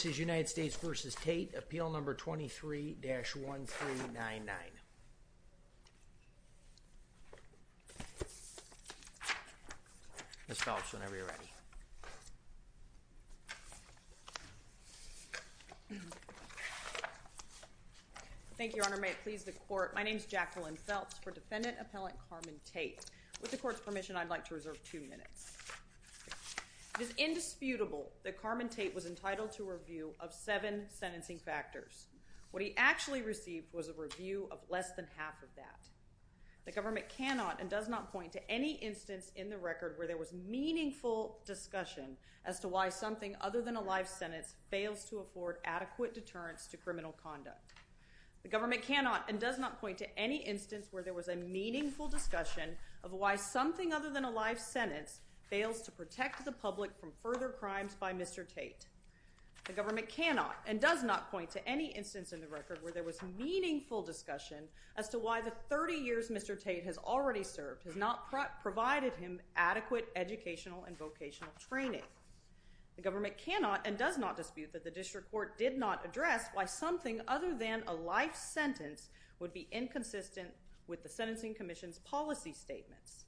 This is United States v. Tate, Appeal No. 23-1399. Ms. Phelps, whenever you're ready. Thank you, Your Honor. May it please the Court, my name is Jacqueline Phelps for Defendant Appellant Carmen Tate. With the Court's permission, I'd like to reserve two minutes. It is indisputable that Carmen Tate was entitled to a review of seven sentencing factors. What he actually received was a review of less than half of that. The government cannot and does not point to any instance in the record where there was meaningful discussion as to why something other than a live sentence fails to afford adequate deterrence to criminal conduct. The government cannot and does not point to any instance where there was a meaningful discussion of why something other than a live sentence fails to protect the public from further crimes by Mr. Tate. The government cannot and does not point to any instance in the record where there was meaningful discussion as to why the 30 years Mr. Tate has already served has not provided him adequate educational and vocational training. The government cannot and does not dispute that the District Court did not address why something other than a live sentence would be inconsistent with the Sentencing Commission's policy statements.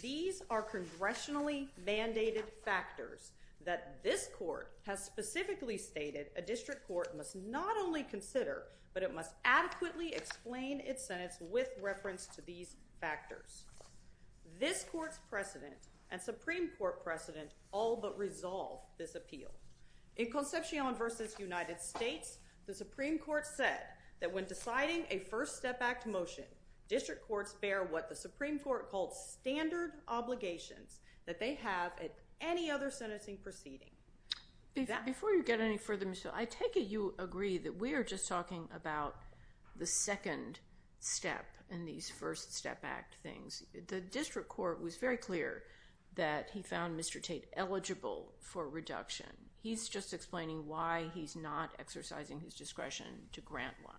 These are congressionally mandated factors that this Court has specifically stated a District Court must not only consider, but it must adequately explain its sentence with reference to these factors. This Court's precedent and Supreme Court precedent all but resolve this appeal. In Concepcion v. United States, the Supreme Court said that when deciding a First Step Act motion, District Courts bear what the Supreme Court called standard obligations that they have at any other sentencing proceeding. Before you get any further, Ms. Hill, I take it you agree that we are just talking about the second step in these First Step Act things. The District Court was very clear that he found Mr. Tate eligible for reduction. He's just explaining why he's not exercising his discretion to grant one.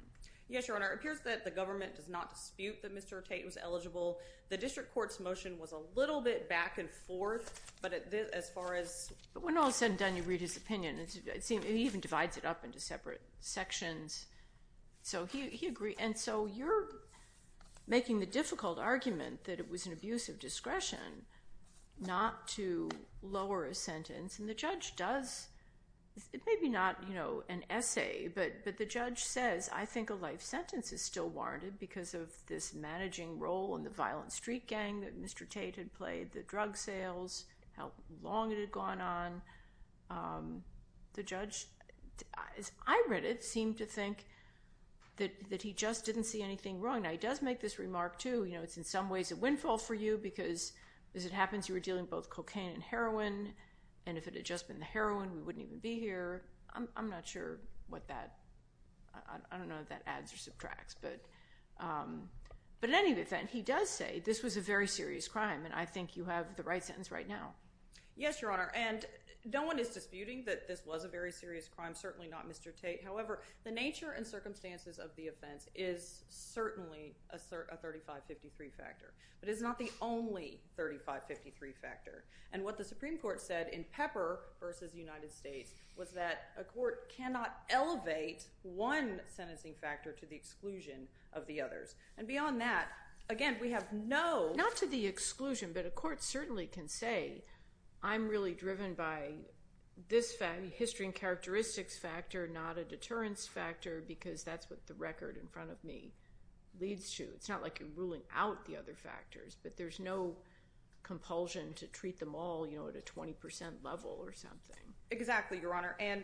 Yes, Your Honor. It appears that the government does not dispute that Mr. Tate was eligible. The District Court's motion was a little bit back and forth, but as far as— But when all is said and done, you read his opinion. He even divides it up into separate sections. He agreed. And so you're making the difficult argument that it was an abuse of discretion not to lower a sentence. And the judge does. It may be not an essay, but the judge says, I think a life sentence is still warranted because of this managing role in the violent street gang that Mr. Tate had played, the drug sales, how long it had gone on. The judge, as I read it, seemed to think that he just didn't see anything wrong. Now, he does make this remark, too. It's in some ways a windfall for you because as it happens, you were dealing with both cocaine and heroin, and if it had just been the heroin, we wouldn't even be here. I'm not sure what that—I don't know if that adds or subtracts. But in any event, he does say this was a very serious crime, and I think you have the right sentence right now. Yes, Your Honor, and no one is disputing that this was a very serious crime, certainly not Mr. Tate. However, the nature and circumstances of the offense is certainly a 3553 factor, but it's not the only 3553 factor. And what the Supreme Court said in Pepper v. United States was that a court cannot elevate one sentencing factor to the exclusion of the others. And beyond that, again, we have no— I'm really driven by this history and characteristics factor, not a deterrence factor, because that's what the record in front of me leads to. It's not like you're ruling out the other factors, but there's no compulsion to treat them all at a 20% level or something. Exactly, Your Honor, and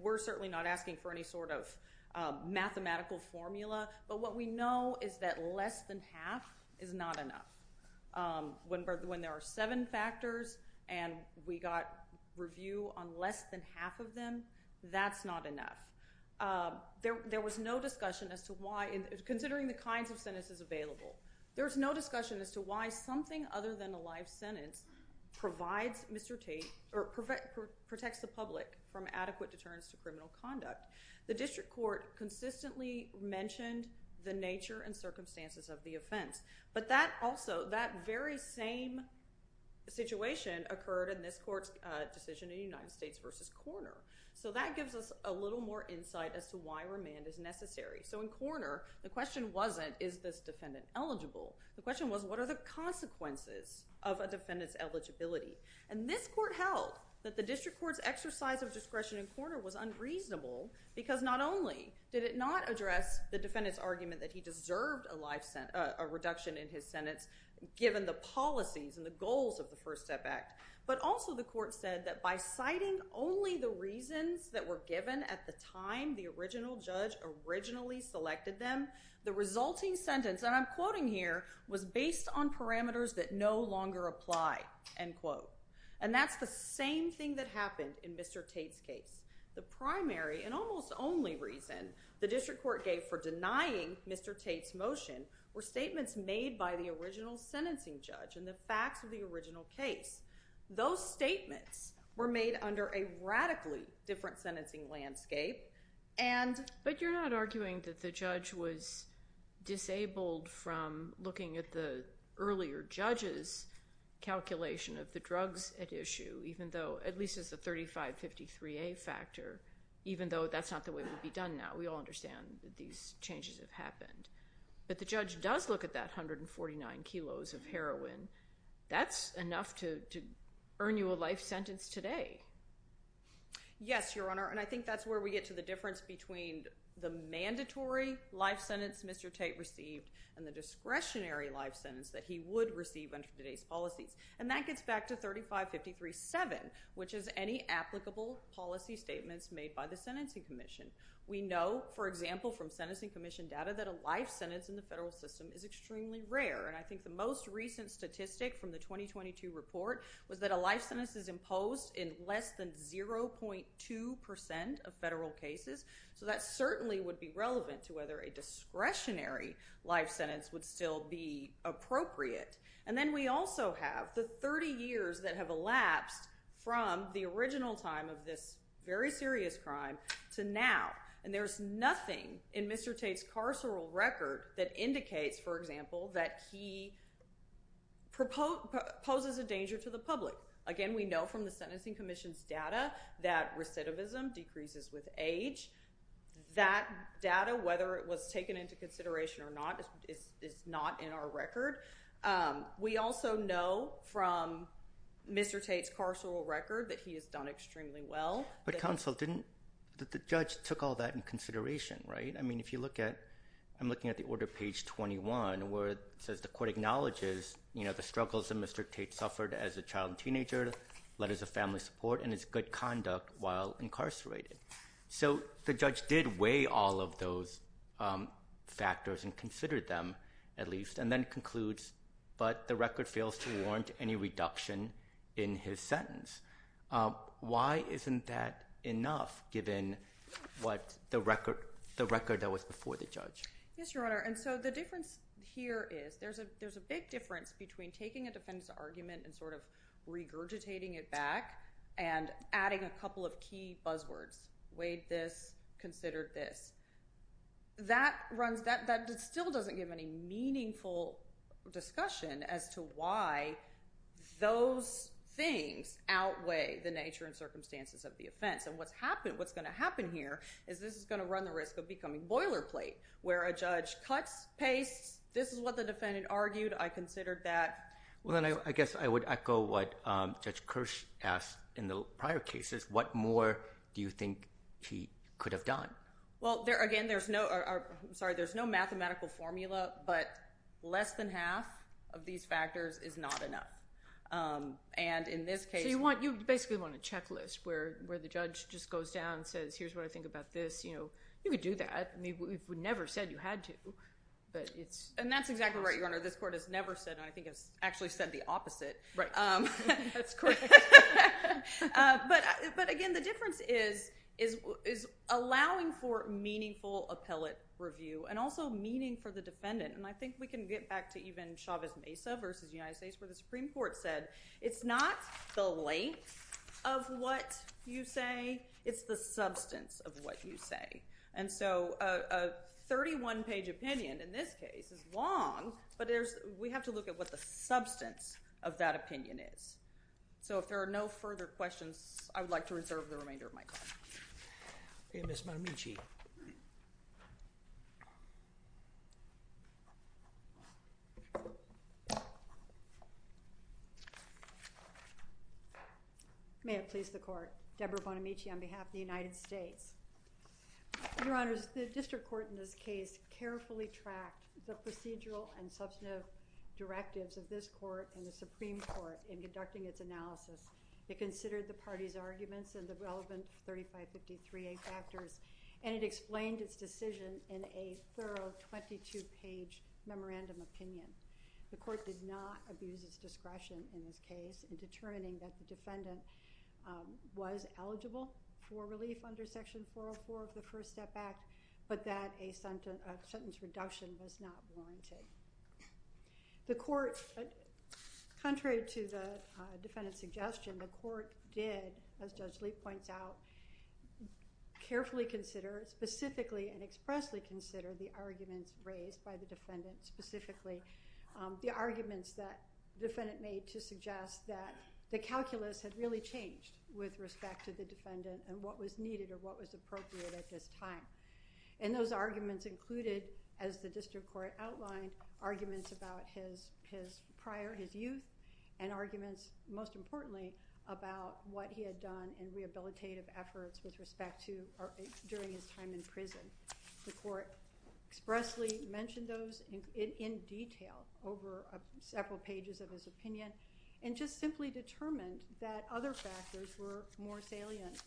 we're certainly not asking for any sort of mathematical formula, but what we know is that less than half is not enough. When there are seven factors and we got review on less than half of them, that's not enough. There was no discussion as to why—considering the kinds of sentences available, there was no discussion as to why something other than a live sentence provides Mr. Tate— or protects the public from adequate deterrence to criminal conduct. The district court consistently mentioned the nature and circumstances of the offense, but that also—that very same situation occurred in this court's decision in United States v. Korner. So that gives us a little more insight as to why remand is necessary. So in Korner, the question wasn't, is this defendant eligible? The question was, what are the consequences of a defendant's eligibility? And this court held that the district court's exercise of discretion in Korner was unreasonable because not only did it not address the defendant's argument that he deserved a reduction in his sentence given the policies and the goals of the First Step Act, but also the court said that by citing only the reasons that were given at the time the original judge originally selected them, the resulting sentence—and I'm quoting here—was based on parameters that no longer apply, end quote. And that's the same thing that happened in Mr. Tate's case. The primary and almost only reason the district court gave for denying Mr. Tate's motion were statements made by the original sentencing judge and the facts of the original case. Those statements were made under a radically different sentencing landscape, and— But you're not arguing that the judge was disabled from looking at the earlier judge's calculation of the drugs at issue, even though—at least as a 3553A factor—even though that's not the way it would be done now. We all understand that these changes have happened. But the judge does look at that 149 kilos of heroin. That's enough to earn you a life sentence today. Yes, Your Honor, and I think that's where we get to the difference between the mandatory life sentence Mr. Tate received and the discretionary life sentence that he would receive under today's policies. And that gets back to 3553.7, which is any applicable policy statements made by the Sentencing Commission. We know, for example, from Sentencing Commission data, that a life sentence in the federal system is extremely rare. And I think the most recent statistic from the 2022 report was that a life sentence is imposed in less than 0.2 percent of federal cases. So that certainly would be relevant to whether a discretionary life sentence would still be appropriate. And then we also have the 30 years that have elapsed from the original time of this very serious crime to now. And there's nothing in Mr. Tate's carceral record that indicates, for example, that he poses a danger to the public. Again, we know from the Sentencing Commission's data that recidivism decreases with age. That data, whether it was taken into consideration or not, is not in our record. We also know from Mr. Tate's carceral record that he has done extremely well. But counsel, didn't the judge took all that in consideration, right? I mean, if you look at—I'm looking at the order, page 21, where it says the court acknowledges, you know, the struggles that Mr. Tate suffered as a child and teenager, letters of family support, and his good conduct while incarcerated. So the judge did weigh all of those factors and considered them, at least, and then concludes, but the record fails to warrant any reduction in his sentence. Why isn't that enough, given what the record—the record that was before the judge? Yes, Your Honor, and so the difference here is there's a big difference between taking a defendant's argument and sort of regurgitating it back and adding a couple of key buzzwords. Weighed this, considered this. That runs—that still doesn't give any meaningful discussion as to why those things outweigh the nature and circumstances of the offense. And what's going to happen here is this is going to run the risk of becoming boilerplate, where a judge cuts, pastes, this is what the defendant argued, I considered that. Well, then I guess I would echo what Judge Kirsch asked in the prior cases. What more do you think he could have done? Well, again, there's no—I'm sorry, there's no mathematical formula, but less than half of these factors is not enough. And in this case— So you want—you basically want a checklist where the judge just goes down and says, here's what I think about this. You know, you could do that. We've never said you had to, but it's— And that's exactly right, Your Honor. This Court has never said, and I think has actually said the opposite. Right. That's correct. But, again, the difference is allowing for meaningful appellate review and also meaning for the defendant. And I think we can get back to even Chavez Mesa v. United States where the Supreme Court said, it's not the length of what you say, it's the substance of what you say. And so a 31-page opinion in this case is long, but we have to look at what the substance of that opinion is. So if there are no further questions, I would like to reserve the remainder of my time. Okay, Ms. Bonamici. May it please the Court. Deborah Bonamici on behalf of the United States. Your Honors, the District Court in this case carefully tracked the procedural and substantive directives of this Court and the Supreme Court in conducting its analysis. It considered the parties' arguments and the relevant 3553A factors, and it explained its decision in a thorough 22-page memorandum opinion. The Court did not abuse its discretion in this case in determining that the defendant was eligible for relief under Section 404 of the First Step Act, but that a sentence reduction was not warranted. The Court, contrary to the defendant's suggestion, the Court did, as Judge Lee points out, carefully consider, specifically and expressly consider the arguments raised by the defendant specifically, the arguments that the defendant made to suggest that the calculus had really changed with respect to the defendant and what was needed or what was appropriate at this time. And those arguments included, as the District Court outlined, arguments about his prior, his youth, and arguments, most importantly, about what he had done in rehabilitative efforts with respect to during his time in prison. The Court expressly mentioned those in detail over several pages of his opinion and just simply determined that other factors were more salient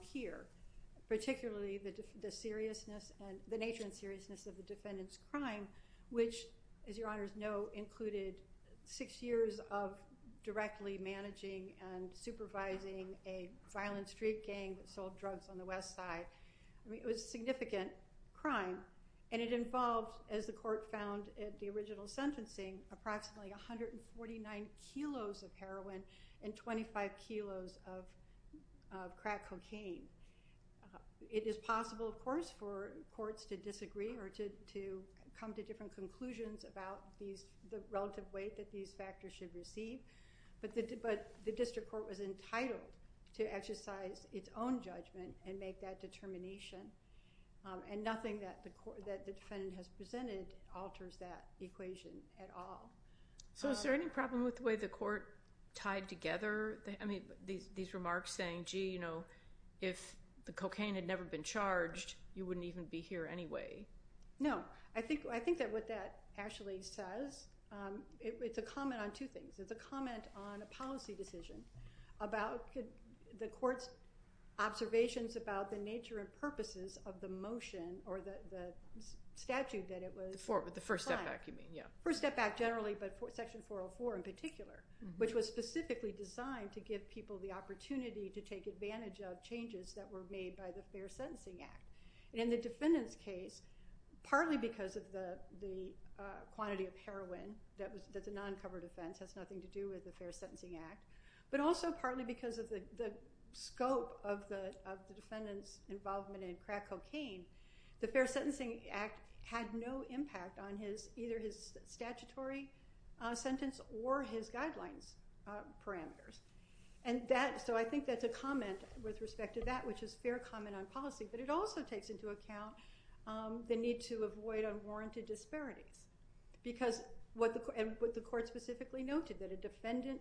here, particularly the seriousness and the nature and seriousness of the defendant's crime, which, as your Honors know, included six years of directly managing and supervising a violent street gang that sold drugs on the West Side. I mean, it was a significant crime, and it involved, as the Court found at the original sentencing, approximately 149 kilos of heroin and 25 kilos of crack cocaine. It is possible, of course, for courts to disagree or to come to different conclusions about the relative weight that these factors should receive, but the District Court was entitled to exercise its own judgment and make that determination, and nothing that the defendant has presented alters that equation at all. So is there any problem with the way the Court tied together these remarks saying, gee, you know, if the cocaine had never been charged, you wouldn't even be here anyway? No. I think that what that actually says, it's a comment on two things. One, about the Court's observations about the nature and purposes of the motion or the statute that it was— The First Step Back, you mean, yeah. First Step Back, generally, but Section 404 in particular, which was specifically designed to give people the opportunity to take advantage of changes that were made by the Fair Sentencing Act. In the defendant's case, partly because of the quantity of heroin that's a non-covered offense, has nothing to do with the Fair Sentencing Act, but also partly because of the scope of the defendant's involvement in crack cocaine, the Fair Sentencing Act had no impact on either his statutory sentence or his guidelines parameters. So I think that's a comment with respect to that, which is fair comment on policy, but it also takes into account the need to avoid unwarranted disparities, because what the Court specifically noted, that a defendant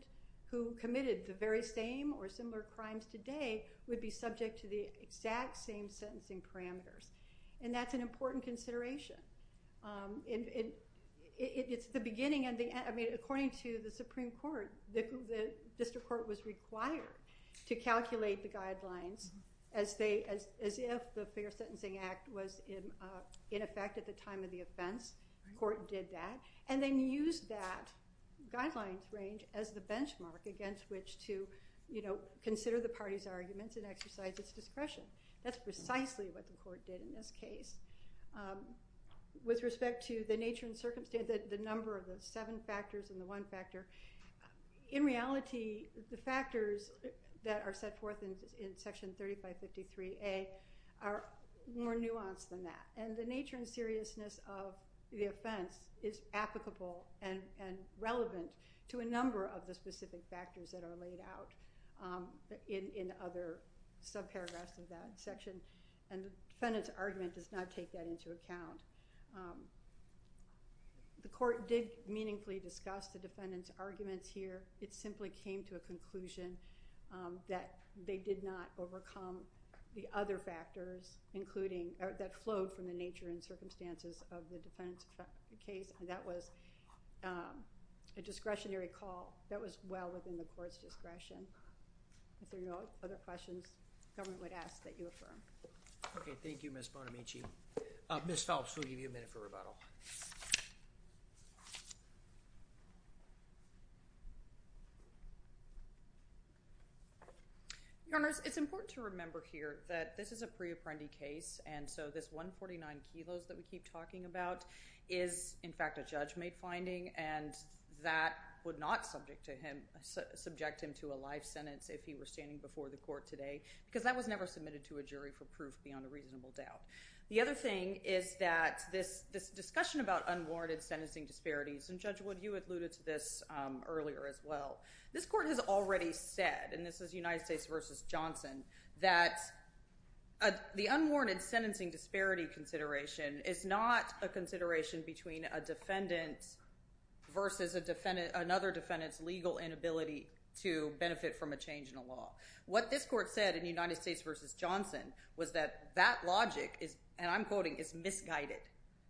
who committed the very same or similar crimes today would be subject to the exact same sentencing parameters, and that's an important consideration. It's the beginning and the end. According to the Supreme Court, the District Court was required to calculate the guidelines as if the Fair Sentencing Act was in effect at the time of the offense. The Court did that, and then used that guidelines range as the benchmark against which to consider the party's arguments and exercise its discretion. That's precisely what the Court did in this case. With respect to the nature and circumstance, the number of the seven factors and the one factor, in reality, the factors that are set forth in Section 3553A are more nuanced than that, and the nature and seriousness of the offense is applicable and relevant to a number of the specific factors that are laid out in other subparagraphs of that section, and the defendant's argument does not take that into account. The Court did meaningfully discuss the defendant's arguments here. It simply came to a conclusion that they did not overcome the other factors that flowed from the nature and circumstances of the defendant's case, and that was a discretionary call that was well within the Court's discretion. If there are no other questions, the government would ask that you affirm. Okay. Thank you, Ms. Bonamici. Ms. Phelps, we'll give you a minute for rebuttal. Your Honors, it's important to remember here that this is a pre-apprendi case, and so this 149 kilos that we keep talking about is, in fact, a judge-made finding, and that would not subject him to a live sentence if he were standing before the Court today because that was never submitted to a jury for proof beyond a reasonable doubt. The other thing is that this discussion about unwarranted sentencing disparities, and Judge Wood, you alluded to this earlier as well. This Court has already said, and this is United States v. Johnson, that the unwarranted sentencing disparity consideration is not a consideration between a defendant versus another defendant's legal inability to benefit from a change in a law. What this Court said in United States v. Johnson was that that logic is, and I'm quoting, is misguided,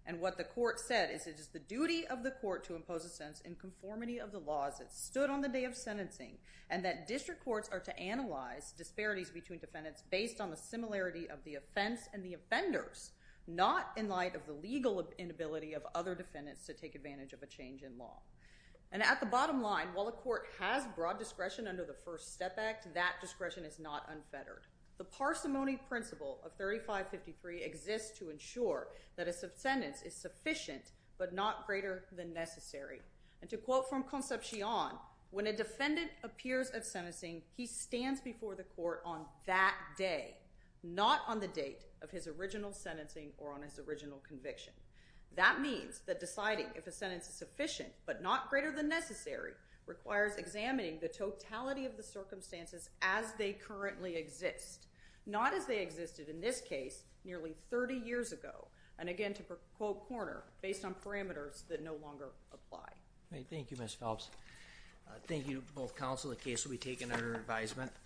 and what the Court said is, it is the duty of the Court to impose a sense in conformity of the laws that stood on the day of sentencing and that district courts are to analyze disparities between defendants based on the similarity of the offense and the offenders, not in light of the legal inability of other defendants to take advantage of a change in law. And at the bottom line, while the Court has broad discretion under the First Step Act, that discretion is not unfettered. The parsimony principle of 3553 exists to ensure that a sentence is sufficient but not greater than necessary, and to quote from Concepcion, when a defendant appears at sentencing, he stands before the Court on that day, not on the date of his original sentencing or on his original conviction. That means that deciding if a sentence is sufficient but not greater than necessary requires examining the totality of the circumstances as they currently exist, not as they existed in this case nearly 30 years ago, and again to quote Korner, based on parameters that no longer apply. Thank you, Ms. Phelps. Thank you to both counsel. The case will be taken under advisement.